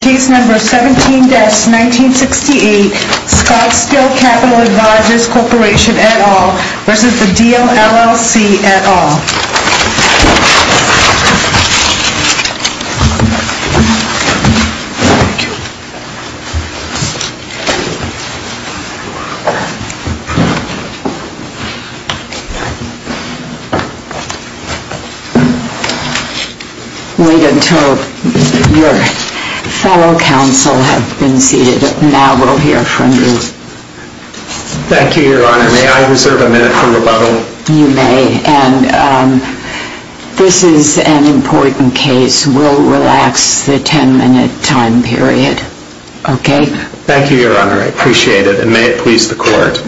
et al. Wait until your fellow counsel have been seated and now we'll hear from you. Thank you, Your Honor. May I reserve a minute for rebuttal? You may. This is an important case. We'll relax the ten-minute time period. Thank you, Your Honor. I appreciate it and may it please the Court.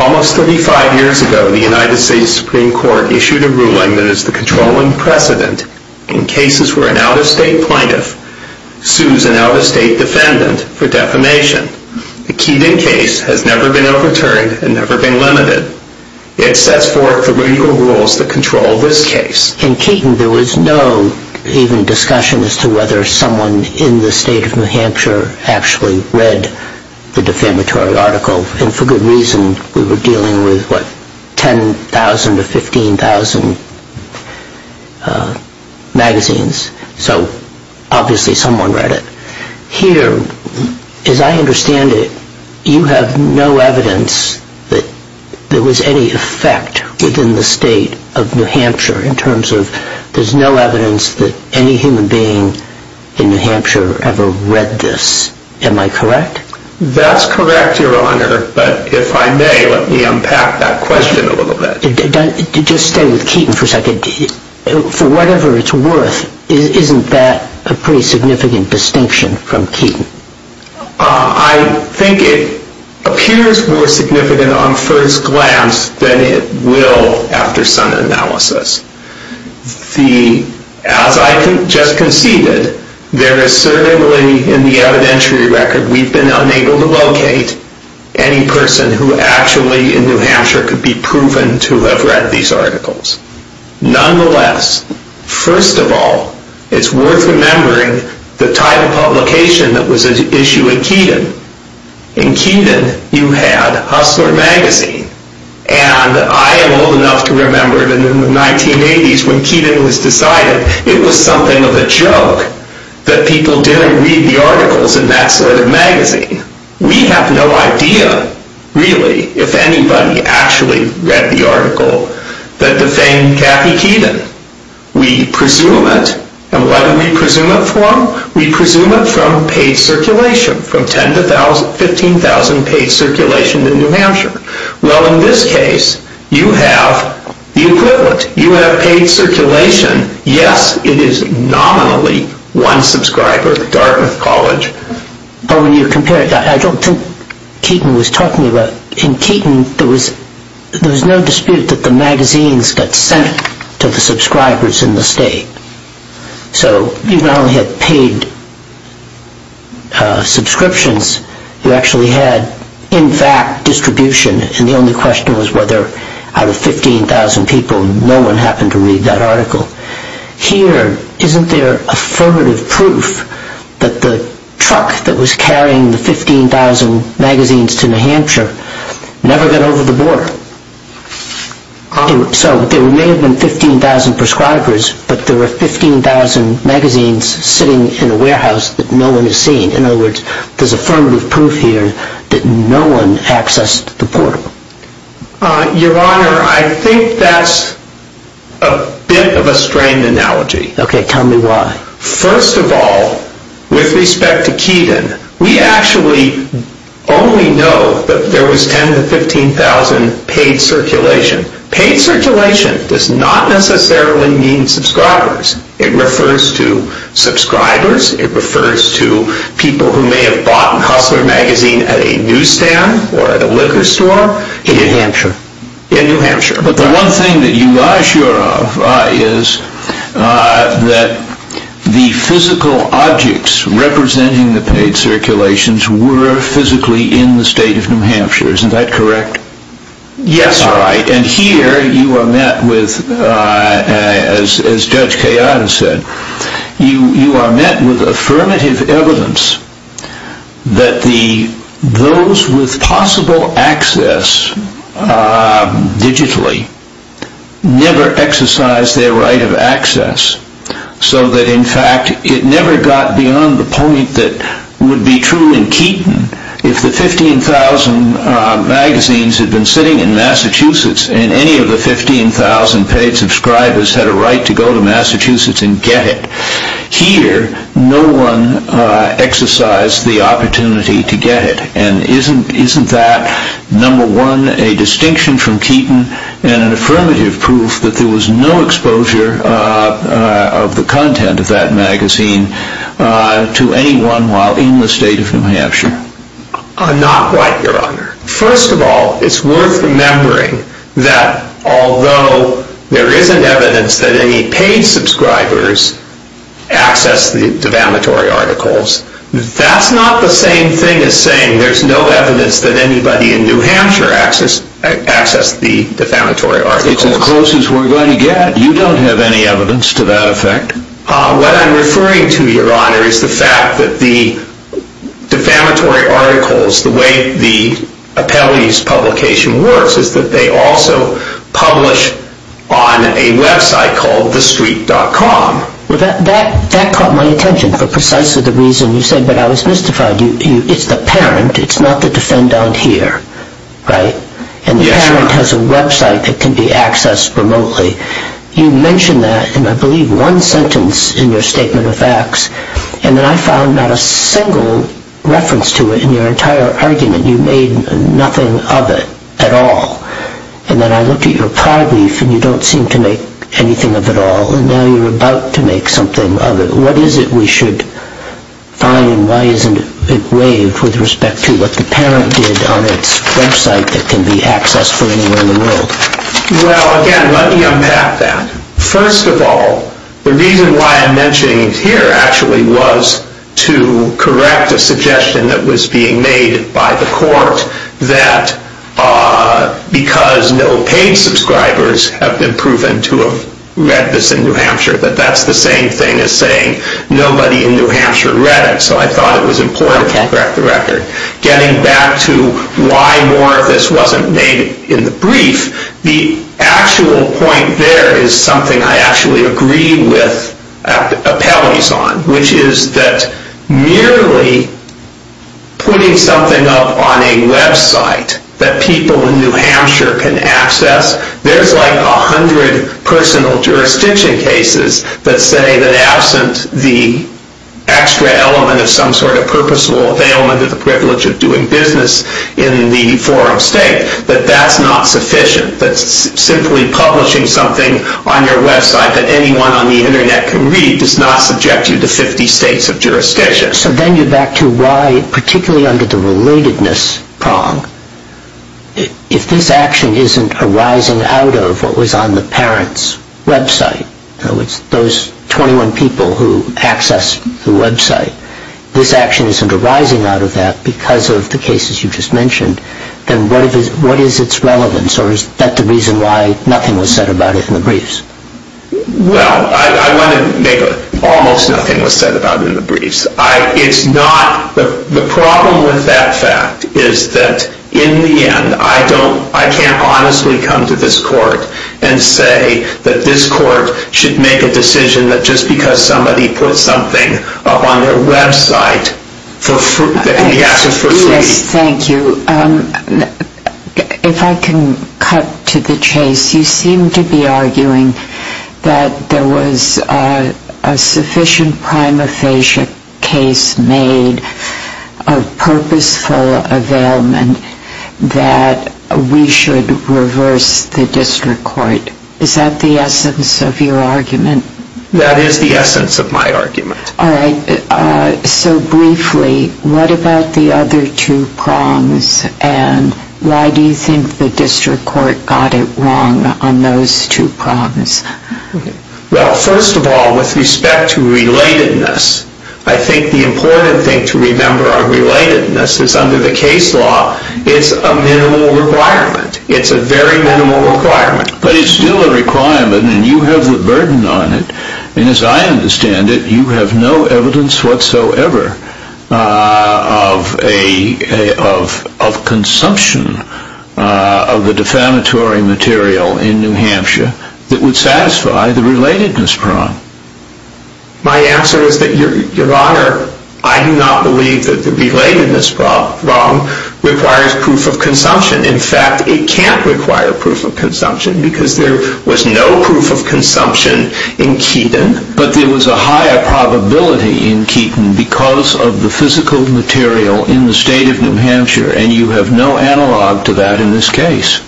Almost 35 years ago, the United States Supreme Court issued a ruling that is the controlling precedent in cases where an out-of-state plaintiff sues an out-of-state defendant for defamation. The Keaton case has never been overturned and never been limited. It sets forth the legal rules that control this case. In Keaton, there was no even discussion as to whether someone in the state of New Hampshire actually read the defamatory article, and for good reason. We were dealing with, what, 10,000 to 15,000 magazines, so obviously someone read it. Here, as I understand it, you have no evidence that there was any effect within the state of New Hampshire in terms of there's no evidence that any human being in New Hampshire ever read this. Am I correct? That's correct, Your Honor, but if I may, let me unpack that question a little bit. Just stay with Keaton for a second. For whatever it's worth, isn't that a pretty significant distinction from Keaton? I think it appears more significant on first glance than it will after some analysis. As I just conceded, there is certainly, in the evidentiary record, we've been unable to locate any person who actually, in New Hampshire, could be proven to have read these articles. Nonetheless, first of all, it's worth remembering the type of publication that was at issue in Keaton. In Keaton, you had Hustler Magazine, and I am old enough to remember that in the 1980s, when Keaton was decided, it was something of a joke that people didn't read the articles in that sort of magazine. We have no idea, really, if anybody actually read the article that defamed Kathy Keaton. We presume it, and what do we presume it from? We presume it from paid circulation, from 10,000 to 15,000 paid circulation in New Hampshire. Well, in this case, you have the equivalent. You have paid circulation. Yes, it is nominally one subscriber, Dartmouth College. But when you compare it, I don't think Keaton was talking about... In Keaton, there was no dispute that the magazines got sent to the subscribers in the state. So, you not only had paid subscriptions, you actually had, in fact, distribution, and the only question was whether, out of 15,000 people, no one happened to read that article. Here, isn't there affirmative proof that the truck that was carrying the 15,000 magazines to New Hampshire never got over the border? So, there may have been 15,000 prescribers, but there were 15,000 magazines sitting in a warehouse that no one had seen. In other words, there's affirmative proof here that no one accessed the portal. Your Honor, I think that's a bit of a strained analogy. Okay, tell me why. First of all, with respect to Keaton, we actually only know that there was 10,000 to 15,000 paid circulation. Paid circulation does not necessarily mean subscribers. It refers to subscribers. It refers to people who may have bought Hustler Magazine at a newsstand or at a liquor store. In New Hampshire. In New Hampshire. But the one thing that you are sure of is that the physical objects representing the paid circulations were physically in the state of New Hampshire. Isn't that correct? Yes, Your Honor. Right, and here you are met with, as Judge Kayada said, you are met with affirmative evidence that those with possible access digitally never exercised their right of access. So that, in fact, it never got beyond the point that would be true in Keaton if the 15,000 magazines had been sitting in Massachusetts and any of the 15,000 paid subscribers had a right to go to Massachusetts and get it. Here, no one exercised the opportunity to get it. And isn't that, number one, a distinction from Keaton and an affirmative proof that there was no exposure of the content of that magazine to anyone while in the state of New Hampshire? Not quite, Your Honor. First of all, it's worth remembering that although there isn't evidence that any paid subscribers accessed the defamatory articles, that's not the same thing as saying there's no evidence that anybody in New Hampshire accessed the defamatory articles. It's as close as we're going to get. You don't have any evidence to that effect? What I'm referring to, Your Honor, is the fact that the defamatory articles, the way the Appellee's publication works, is that they also publish on a website called thestreet.com. That caught my attention for precisely the reason you said, but I was mystified. It's the parent, it's not the defendant here, right? Yes, Your Honor. And the parent has a website that can be accessed remotely. You mentioned that in, I believe, one sentence in your statement of facts, and then I found not a single reference to it in your entire argument. You made nothing of it at all. And then I looked at your prior brief, and you don't seem to make anything of it at all. And now you're about to make something of it. What is it we should find, and why isn't it waived with respect to what the parent did on its website that can be accessed from anywhere in the world? Well, again, let me unpack that. First of all, the reason why I'm mentioning it here, actually, was to correct a suggestion that was being made by the court that, because no paid subscribers have been proven to have read this in New Hampshire, that that's the same thing as saying nobody in New Hampshire read it, so I thought it was important to correct the record. Getting back to why more of this wasn't made in the brief, the actual point there is something I actually agree with appellees on, which is that merely putting something up on a website that people in New Hampshire can access, there's like 100 personal jurisdiction cases that say that, the extra element of some sort of purposeful availment of the privilege of doing business in the forum state, that that's not sufficient, that simply publishing something on your website that anyone on the internet can read does not subject you to 50 states of jurisdiction. So then you're back to why, particularly under the relatedness prong, if this action isn't arising out of what was on the parent's website, so it's those 21 people who access the website, this action isn't arising out of that because of the cases you just mentioned, then what is its relevance, or is that the reason why nothing was said about it in the briefs? Well, I want to make a, almost nothing was said about it in the briefs. It's not, the problem with that fact is that in the end, I don't, I can't honestly come to this court and say that this court should make a decision that just because somebody puts something up on their website that can be accessed for free. Yes, thank you. If I can cut to the chase, you seem to be arguing that there was a sufficient prima facie case made of purposeful availment that we should reverse the district court. Is that the essence of your argument? That is the essence of my argument. All right, so briefly, what about the other two prongs, and why do you think the district court got it wrong on those two prongs? Well, first of all, with respect to relatedness, I think the important thing to remember on relatedness is under the case law, it's a minimal requirement. It's a very minimal requirement. But it's still a requirement, and you have the burden on it, and as I understand it, you have no evidence whatsoever of consumption of the defamatory material in New Hampshire that would satisfy the relatedness prong. My answer is that, Your Honor, I do not believe that the relatedness prong requires proof of consumption. In fact, it can't require proof of consumption, because there was no proof of consumption in Keaton. But there was a higher probability in Keaton because of the physical material in the state of New Hampshire, and you have no analog to that in this case.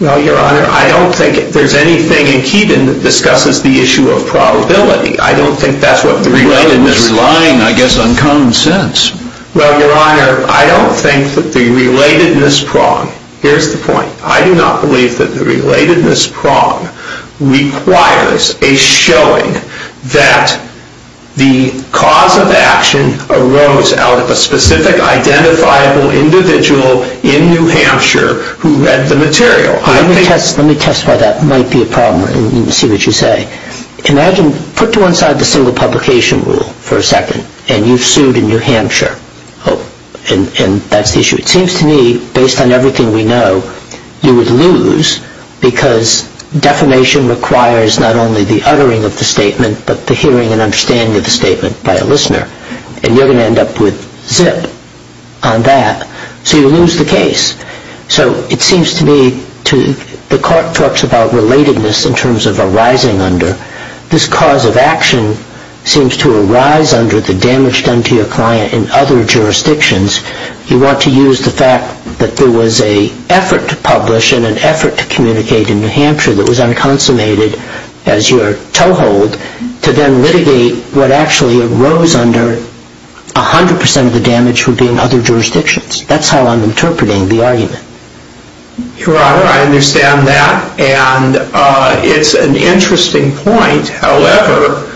Well, Your Honor, I don't think there's anything in Keaton that discusses the issue of probability. I don't think that's what the relatedness prong... Relatedness is relying, I guess, on common sense. Well, Your Honor, I don't think that the relatedness prong... Here's the point. I do not believe that the relatedness prong requires a showing that the cause of action arose out of a specific identifiable individual in New Hampshire who read the material. Let me test why that might be a problem and see what you say. Imagine, put to one side the single publication rule for a second, and you've sued in New Hampshire, and that's the issue. It seems to me, based on everything we know, you would lose because defamation requires not only the uttering of the statement but the hearing and understanding of the statement by a listener, and you're going to end up with zip on that. So you lose the case. So it seems to me to... The court talks about relatedness in terms of arising under. This cause of action seems to arise under the damage done to your client in other jurisdictions. You want to use the fact that there was an effort to publish and an effort to communicate in New Hampshire that was unconsummated as your toehold to then litigate what actually arose under 100% of the damage would be in other jurisdictions. That's how I'm interpreting the argument. Your Honor, I understand that, and it's an interesting point. However,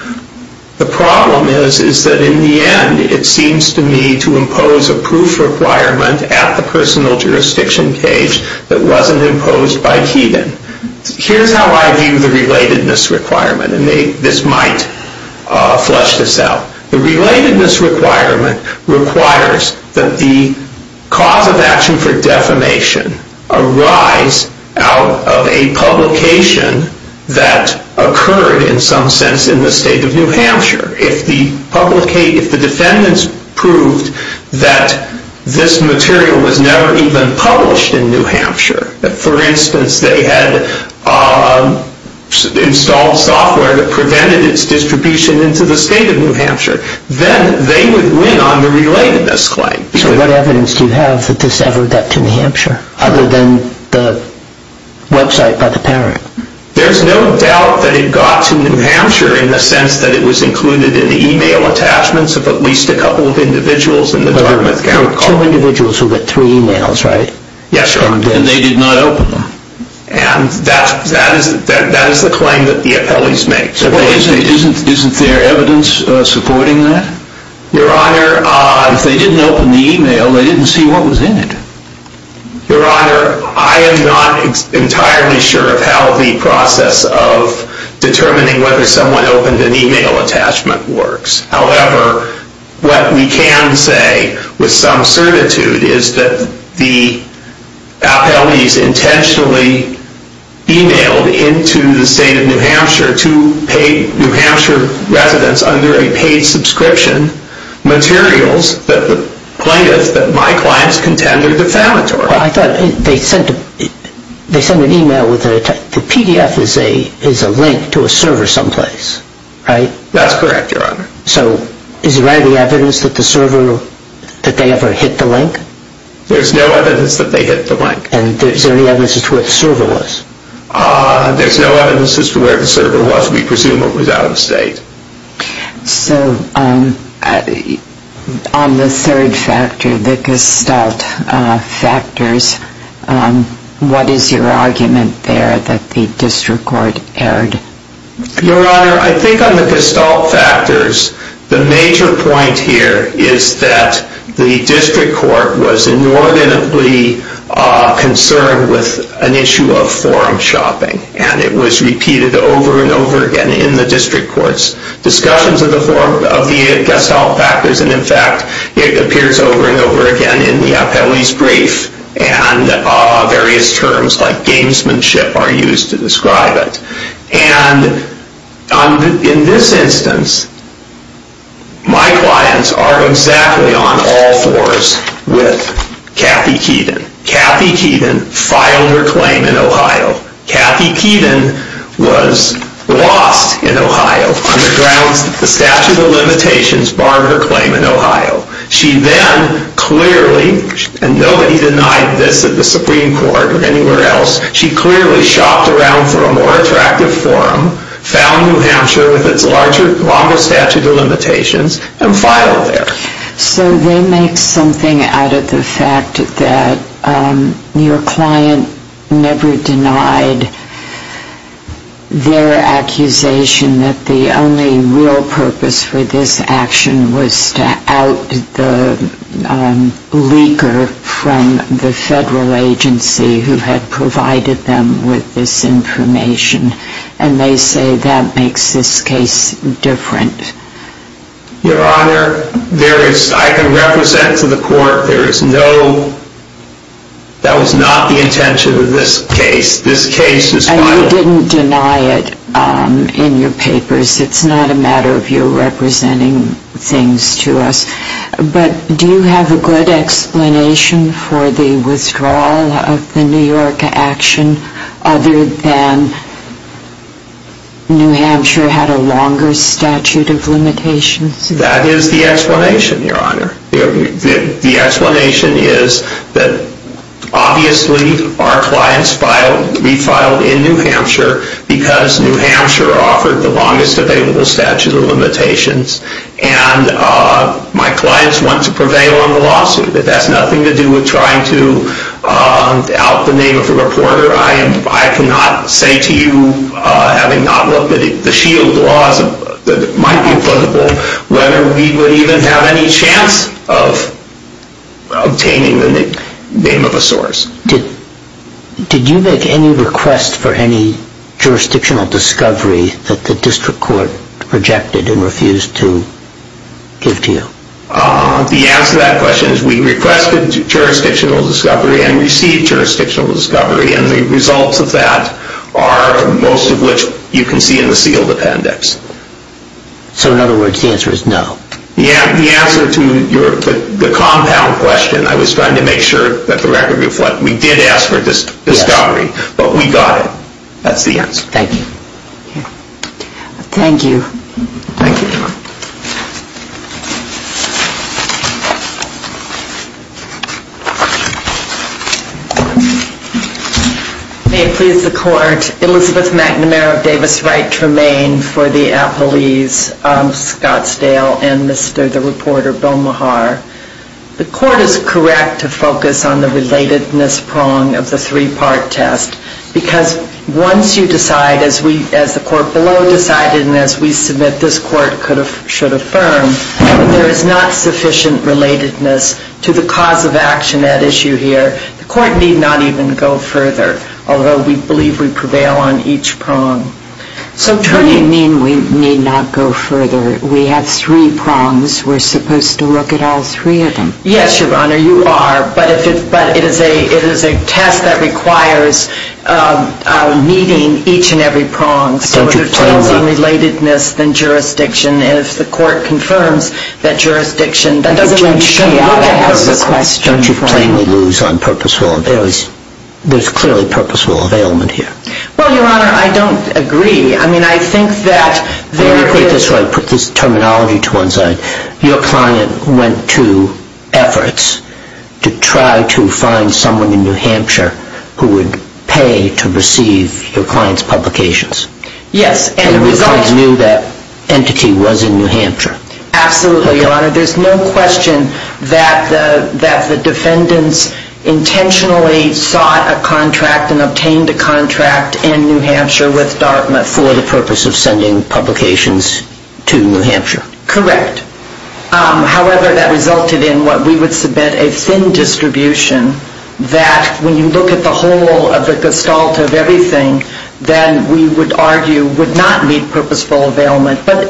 the problem is that in the end, it seems to me to impose a proof requirement at the personal jurisdiction case that wasn't imposed by Keegan. Here's how I view the relatedness requirement, and this might flush this out. The relatedness requirement requires that the cause of action for defamation arise out of a publication that occurred, in some sense, in the state of New Hampshire. If the defendants proved that this material was never even published in New Hampshire, that, for instance, they had installed software that prevented its distribution into the state of New Hampshire, then they would win on the relatedness claim. So what evidence do you have that this ever got to New Hampshire, other than the website by the parent? There's no doubt that it got to New Hampshire in the sense that it was included in the e-mail attachments of at least a couple of individuals in the Dartmouth County Court. There were two individuals who got three e-mails, right? Yes, Your Honor, and they did not open them. And that is the claim that the appellees make. Isn't there evidence supporting that? Your Honor, if they didn't open the e-mail, they didn't see what was in it. Your Honor, I am not entirely sure of how the process of determining whether someone opened an e-mail attachment works. However, what we can say with some certitude is that the appellees intentionally e-mailed into the state of New Hampshire to pay New Hampshire residents under a paid subscription materials that the plaintiffs that my clients contended were defamatory. Well, I thought they sent an e-mail with a PDF as a link to a server someplace, right? That's correct, Your Honor. So is there any evidence that the server, that they ever hit the link? There's no evidence that they hit the link. And is there any evidence as to where the server was? There's no evidence as to where the server was. We presume it was out of state. So on the third factor, the gestalt factors, what is your argument there that the district court erred? Your Honor, I think on the gestalt factors, the major point here is that the district court was inordinately concerned with an issue of forum shopping. And it was repeated over and over again in the district court's discussions of the gestalt factors. And in fact, it appears over and over again in the appellee's brief. And various terms like gamesmanship are used to describe it. And in this instance, my clients are exactly on all fours with Kathy Keaton. Kathy Keaton filed her claim in Ohio. Kathy Keaton was lost in Ohio on the grounds that the statute of limitations barred her claim in Ohio. She then clearly, and nobody denied this at the Supreme Court or anywhere else, she clearly shopped around for a more attractive forum, found New Hampshire with its longer statute of limitations, and filed there. So they make something out of the fact that your client never denied their the leaker from the federal agency who had provided them with this information. And they say that makes this case different. Your Honor, there is, I can represent to the court there is no, that was not the intention of this case. This case is filed. And you didn't deny it in your papers. It's not a matter of you representing things to us. But do you have a good explanation for the withdrawal of the New York action other than New Hampshire had a longer statute of limitations? That is the explanation, Your Honor. The explanation is that obviously our clients filed, we filed in New Hampshire because New Hampshire offered the longest available statute of limitations. And my clients want to prevail on the lawsuit. That has nothing to do with trying to out the name of a reporter. I cannot say to you, having not looked at the shield laws that might be applicable, whether we would even have any chance of obtaining the name of a source. Did you make any request for any jurisdictional discovery that the district court rejected and refused to give to you? The answer to that question is we requested jurisdictional discovery and received jurisdictional discovery. And the results of that are most of which you can see in the sealed appendix. So in other words, the answer is no. Yeah, the answer to the compound question, I was trying to make sure that the record reflects we did ask for discovery, but we got it. That's the answer. Thank you. Thank you. Thank you, Your Honor. May it please the court, Elizabeth McNamara of Davis Wright Tremaine for the appellees of Scottsdale and Mr. the reporter, Bill Maher. The court is correct to focus on the relatedness prong of the three-part test because once you decide, as the court below decided and as we submit this court should affirm, there is not sufficient relatedness to the cause of action at issue here. The court need not even go further, although we believe we prevail on each prong. So what do you mean we need not go further? We have three prongs. We're supposed to look at all three of them. Yes, Your Honor, you are. But it is a test that requires meeting each and every prong. So if there's cleansing relatedness, then jurisdiction. If the court confirms that jurisdiction, that doesn't change the outcome of the question. Don't you plainly lose on purposeful? There's clearly purposeful availment here. Well, Your Honor, I don't agree. Put this terminology to one side. Your client went to efforts to try to find someone in New Hampshire who would pay to receive your client's publications. Yes. And the client knew that entity was in New Hampshire. Absolutely, Your Honor. There's no question that the defendants intentionally sought a contract and obtained a contract in New Hampshire with Dartmouth. For the purpose of sending publications to New Hampshire. Correct. However, that resulted in what we would submit a thin distribution that, when you look at the whole of the gestalt of everything, then we would argue would not meet purposeful availment. But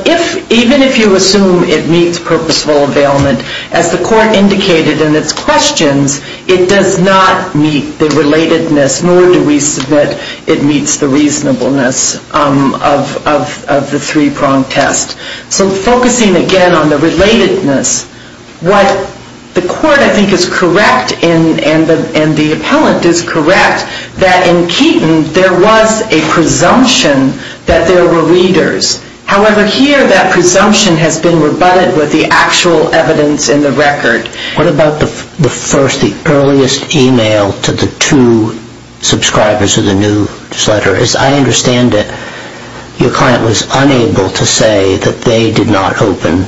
even if you assume it meets purposeful availment, as the court indicated in its questions, it does not meet the relatedness, nor do we submit it meets the reasonableness of the three-pronged test. So focusing again on the relatedness, what the court, I think, is correct, and the appellant is correct, that in Keaton there was a presumption that there were readers. However, here that presumption has been rebutted with the actual evidence in the record. What about the first, the earliest email to the two subscribers of the newsletter? As I understand it, your client was unable to say that they did not open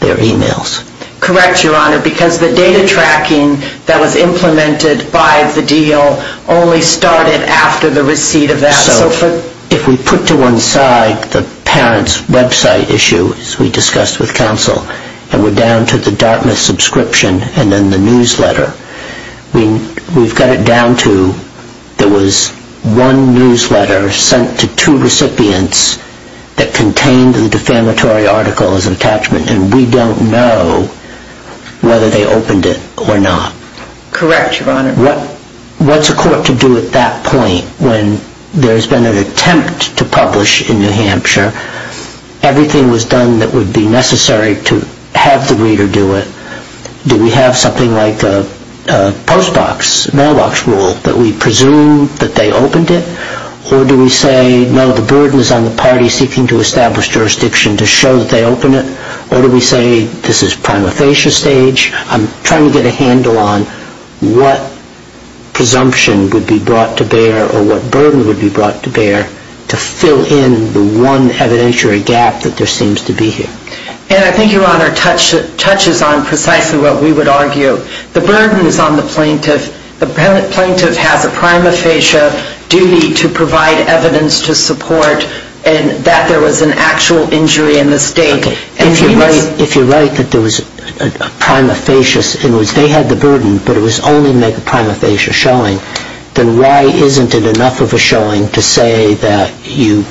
their emails. Correct, Your Honor, because the data tracking that was implemented by the deal only started after the receipt of that. So if we put to one side the parent's website issue, as we discussed with counsel, and we're down to the Dartmouth subscription and then the newsletter, we've got it down to there was one newsletter sent to two recipients that contained the defamatory article as an attachment, and we don't know whether they opened it or not. Correct, Your Honor. What's a court to do at that point when there's been an attempt to publish in New Hampshire, everything was done that would be necessary to have the reader do it? Do we have something like a postbox, mailbox rule that we presume that they opened it? Or do we say, no, the burden is on the party seeking to establish jurisdiction to show that they opened it? Or do we say this is prima facie stage? I'm trying to get a handle on what presumption would be brought to bear or what burden would be brought to bear to fill in the one evidentiary gap that there seems to be here. And I think, Your Honor, it touches on precisely what we would argue. The burden is on the plaintiff. The plaintiff has a prima facie duty to provide evidence to support that there was an actual injury in the state. If you're right that there was a prima facie, in other words, they had the burden, but it was only to make a prima facie showing, then why isn't it enough of a showing to say that you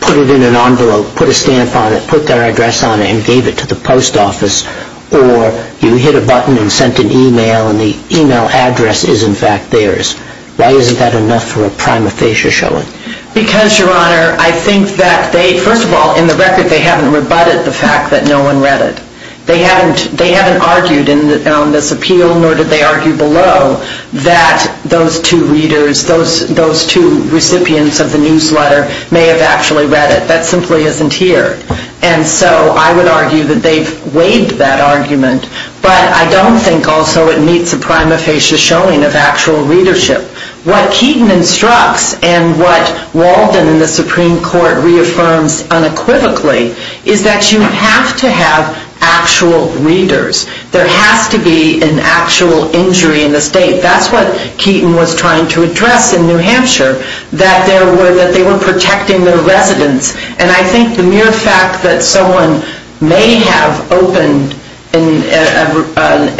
put it in an envelope, put a stamp on it, put their address on it, and gave it to the post office? Or you hit a button and sent an email, and the email address is, in fact, theirs. Why isn't that enough for a prima facie showing? Because, Your Honor, I think that they, first of all, in the record, they haven't rebutted the fact that no one read it. They haven't argued in this appeal, nor did they argue below, that those two readers, those two recipients of the newsletter may have actually read it. That simply isn't here. And so I would argue that they've waived that argument, but I don't think also it meets a prima facie showing of actual readership. What Keaton instructs and what Walden in the Supreme Court reaffirms unequivocally is that you have to have actual readers. There has to be an actual injury in the state. That's what Keaton was trying to address in New Hampshire, that they were protecting their residents. And I think the mere fact that someone may have opened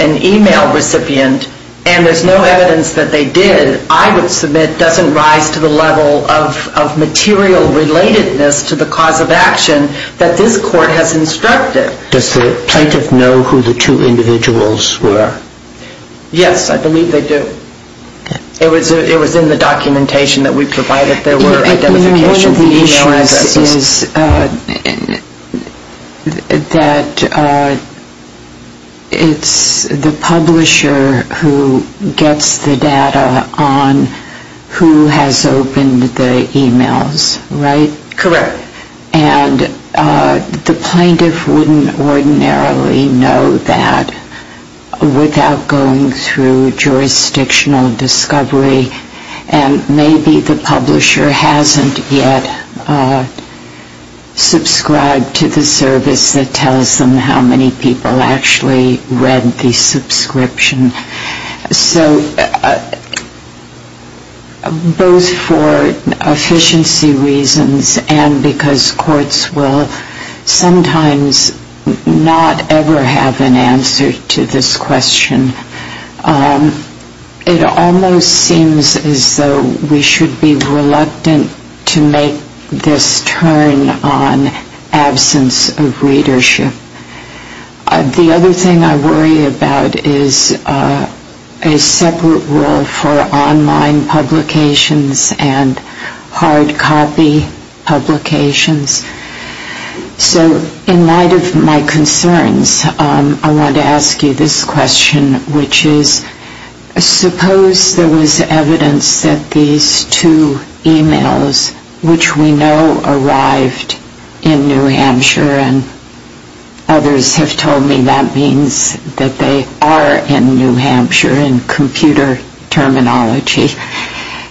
an email recipient and there's no evidence that they did, I would submit, doesn't rise to the level of material relatedness to the cause of action that this court has instructed. Does the plaintiff know who the two individuals were? Yes, I believe they do. It was in the documentation that we provided there were identifications. One of the issues is that it's the publisher who gets the data on who has opened the emails, right? Correct. And the plaintiff wouldn't ordinarily know that without going through jurisdictional discovery, and maybe the publisher hasn't yet subscribed to the service that tells them how many people actually read the subscription. So both for efficiency reasons and because courts will sometimes not ever have an answer to this question, it almost seems as though we should be reluctant to make this turn on absence of readership. The other thing I worry about is a separate role for online publications and hard copy publications. So in light of my concerns, I want to ask you this question, which is suppose there was evidence that these two emails, which we know arrived in New Hampshire and others have told me that means that they are in New Hampshire in computer terminology.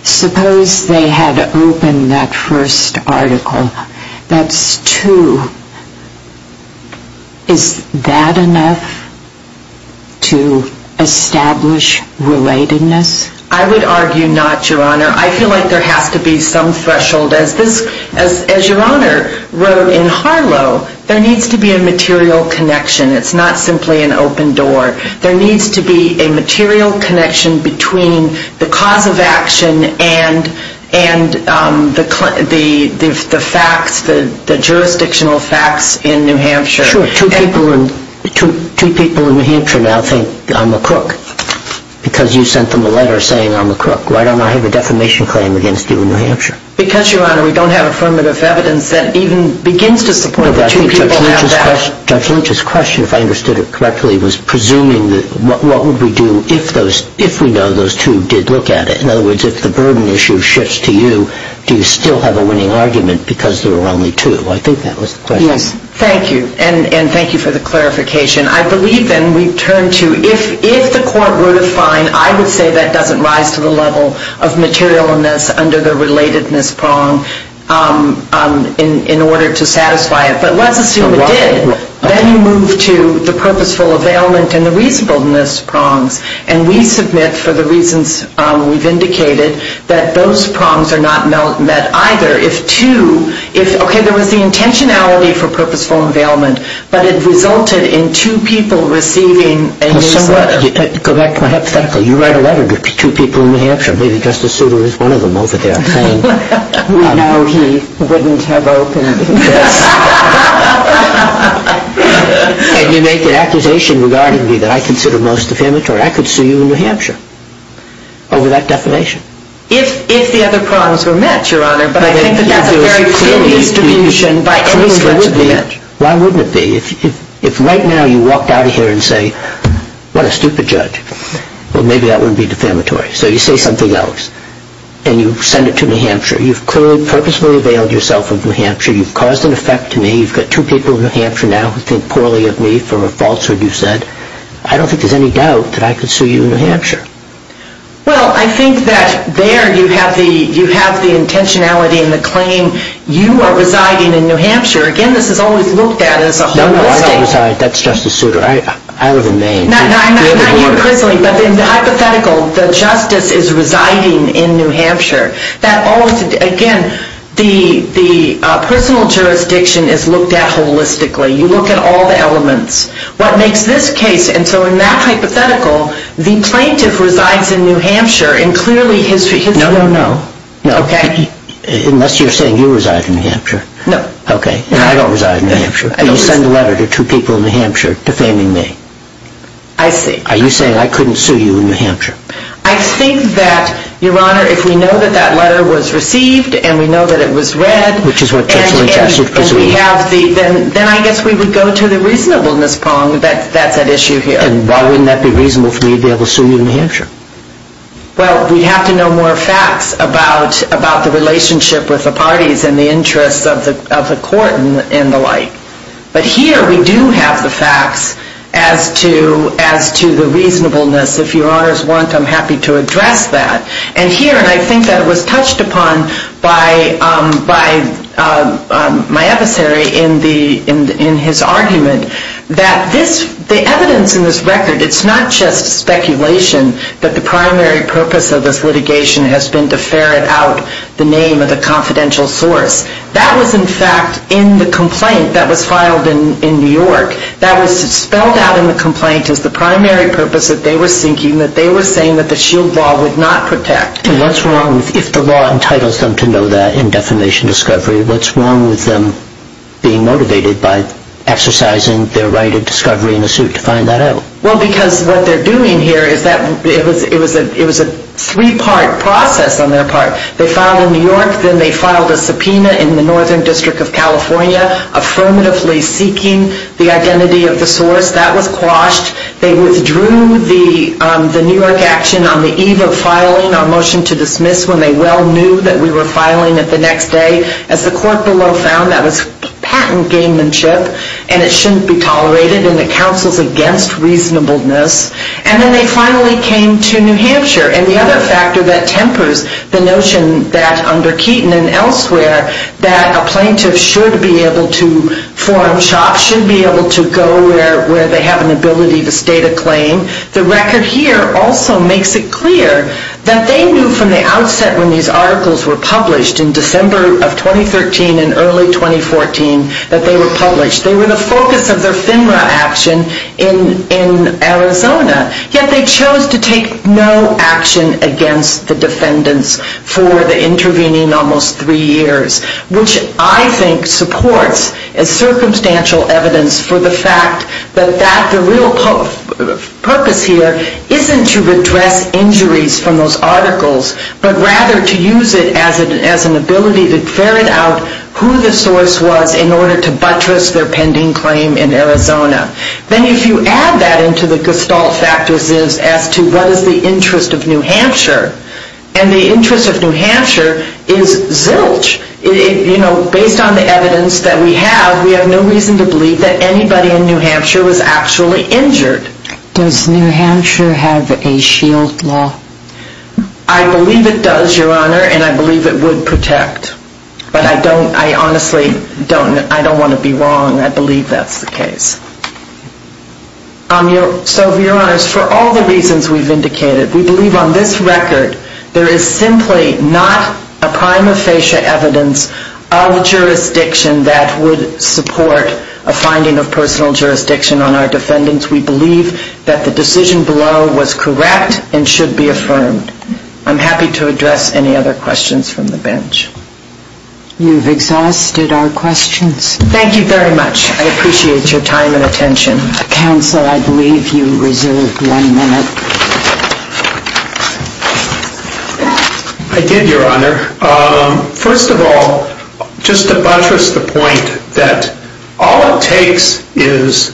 Suppose they had opened that first article, that's two. Is that enough to establish relatedness? I would argue not, Your Honor. I feel like there has to be some threshold. As Your Honor wrote in Harlow, there needs to be a material connection. It's not simply an open door. There needs to be a material connection between the cause of action and the facts, the jurisdictional facts in New Hampshire. Sure. Two people in New Hampshire now think I'm a crook because you sent them a letter saying I'm a crook. Why don't I have a defamation claim against you in New Hampshire? Because, Your Honor, we don't have affirmative evidence that even begins to support that two people have that. Judge Lynch's question, if I understood it correctly, was presuming what would we do if we know those two did look at it. In other words, if the burden issue shifts to you, do you still have a winning argument because there were only two? I think that was the question. Yes. Thank you, and thank you for the clarification. I believe then we turn to if the court were to find, I would say that doesn't rise to the level of materialness under the relatedness prong in order to satisfy it. But let's assume it did. Then you move to the purposeful availment and the reasonableness prongs, and we submit for the reasons we've indicated that those prongs are not met either. Okay, there was the intentionality for purposeful availment, but it resulted in two people receiving a letter. Go back to my hypothetical. You write a letter to two people in New Hampshire, maybe Justice Souter is one of them over there. We know he wouldn't have opened his case. And you make an accusation regarding me that I consider most defamatory. I could sue you in New Hampshire over that defamation. If the other prongs were met, Your Honor, but I think that that's a very clear distribution. Why wouldn't it be? If right now you walked out of here and say, what a stupid judge, well, maybe that wouldn't be defamatory. So you say something else and you send it to New Hampshire. You've clearly purposefully availed yourself of New Hampshire. You've caused an effect to me. You've got two people in New Hampshire now who think poorly of me for a falsehood you've said. I don't think there's any doubt that I could sue you in New Hampshire. Well, I think that there you have the intentionality and the claim you are residing in New Hampshire. Again, this is always looked at as a holistic. No, no, I don't reside. That's Justice Souter. I remain. Not you personally, but in the hypothetical, the justice is residing in New Hampshire. Again, the personal jurisdiction is looked at holistically. You look at all the elements. What makes this case, and so in that hypothetical, the plaintiff resides in New Hampshire and clearly his... No, no, no. Okay. Unless you're saying you reside in New Hampshire. No. Okay. I don't reside in New Hampshire. You send a letter to two people in New Hampshire defaming me. I see. Are you saying I couldn't sue you in New Hampshire? I think that, Your Honor, if we know that that letter was received and we know that it was read... Which is what Judge Lynch asked you to presume. Then I guess we would go to the reasonableness prong that that's at issue here. And why wouldn't that be reasonable for me to be able to sue you in New Hampshire? Well, we'd have to know more facts about the relationship with the parties and the interests of the court and the like. But here we do have the facts as to the reasonableness. If Your Honors want, I'm happy to address that. And here, and I think that it was touched upon by my adversary in his argument, that the evidence in this record, it's not just speculation, that the primary purpose of this litigation has been to ferret out the name of the confidential source. That was, in fact, in the complaint that was filed in New York. That was spelled out in the complaint as the primary purpose that they were seeking, that they were saying that the SHIELD law would not protect. And what's wrong if the law entitles them to know that in defamation discovery? What's wrong with them being motivated by exercising their right of discovery in a suit to find that out? Well, because what they're doing here is that it was a three-part process on their part. They filed in New York, then they filed a subpoena in the Northern District of California, affirmatively seeking the identity of the source. That was quashed. They withdrew the New York action on the eve of filing our motion to dismiss when they well knew that we were filing it the next day. As the court below found, that was patent gamemanship and it shouldn't be tolerated and it counsels against reasonableness. And then they finally came to New Hampshire. And the other factor that tempers the notion that under Keaton and elsewhere, that a plaintiff should be able to form shops, should be able to go where they have an ability to state a claim, the record here also makes it clear that they knew from the outset when these articles were published in December of 2013 and early 2014 that they were published. They were the focus of their FINRA action in Arizona. Yet they chose to take no action against the defendants for the intervening almost three years, which I think supports as circumstantial evidence for the fact that the real purpose here isn't to redress injuries from those articles, but rather to use it as an ability to ferret out who the source was in order to buttress their pending claim in Arizona. Then if you add that into the gestalt factors as to what is the interest of New Hampshire, and the interest of New Hampshire is zilch. Based on the evidence that we have, we have no reason to believe that anybody in New Hampshire was actually injured. Does New Hampshire have a shield law? I believe it does, Your Honor, and I believe it would protect. But I honestly don't want to be wrong. I believe that's the case. So, Your Honors, for all the reasons we've indicated, we believe on this record there is simply not a prima facie evidence of jurisdiction that would support a finding of personal jurisdiction on our defendants. We believe that the decision below was correct and should be affirmed. I'm happy to address any other questions from the bench. You've exhausted our questions. Thank you very much. I appreciate your time and attention. Counsel, I believe you reserved one minute. I did, Your Honor. First of all, just to buttress the point that all it takes is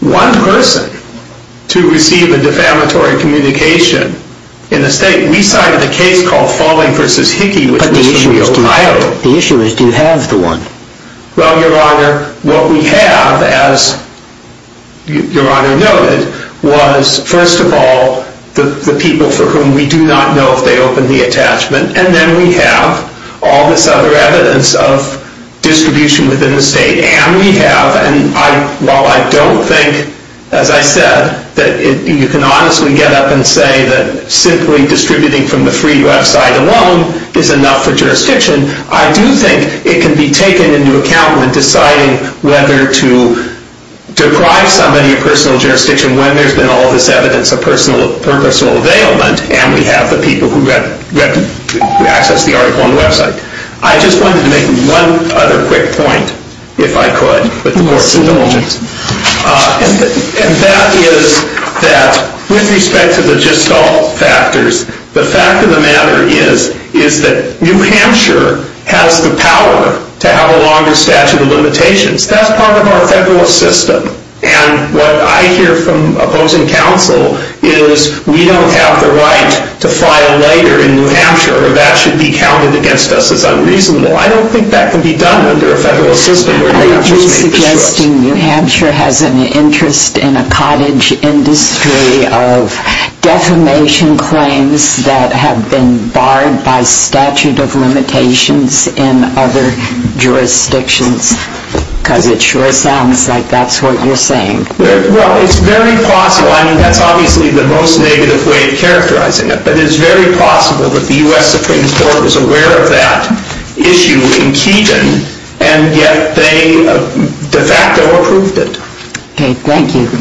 one person to receive a defamatory communication in the state. We cited a case called Falling v. Hickey, which was from Ohio. The issue is, do you have the one? Well, Your Honor, what we have, as Your Honor noted, was, first of all, the people for whom we do not know if they opened the attachment. And then we have all this other evidence of distribution within the state. And we have, and while I don't think, as I said, that you can honestly get up and say that simply distributing from the free website alone is enough for jurisdiction, I do think it can be taken into account when deciding whether to deprive somebody of personal jurisdiction when there's been all this evidence of personal availment, and we have the people who access the article on the website. I just wanted to make one other quick point, if I could, with the court's indulgence. And that is that, with respect to the gestalt factors, the fact of the matter is that New Hampshire has the power to have a longer statute of limitations. That's part of our federal system. And what I hear from opposing counsel is, we don't have the right to file later in New Hampshire, or that should be counted against us as unreasonable. I don't think that can be done under a federal system where New Hampshire's made the choice. Interesting, New Hampshire has an interest in a cottage industry of defamation claims that have been barred by statute of limitations in other jurisdictions, because it sure sounds like that's what you're saying. Well, it's very possible. I mean, that's obviously the most negative way of characterizing it, but it's very possible that the U.S. Supreme Court is aware of that issue in Keeton, and yet they de facto approved it. Okay, thank you.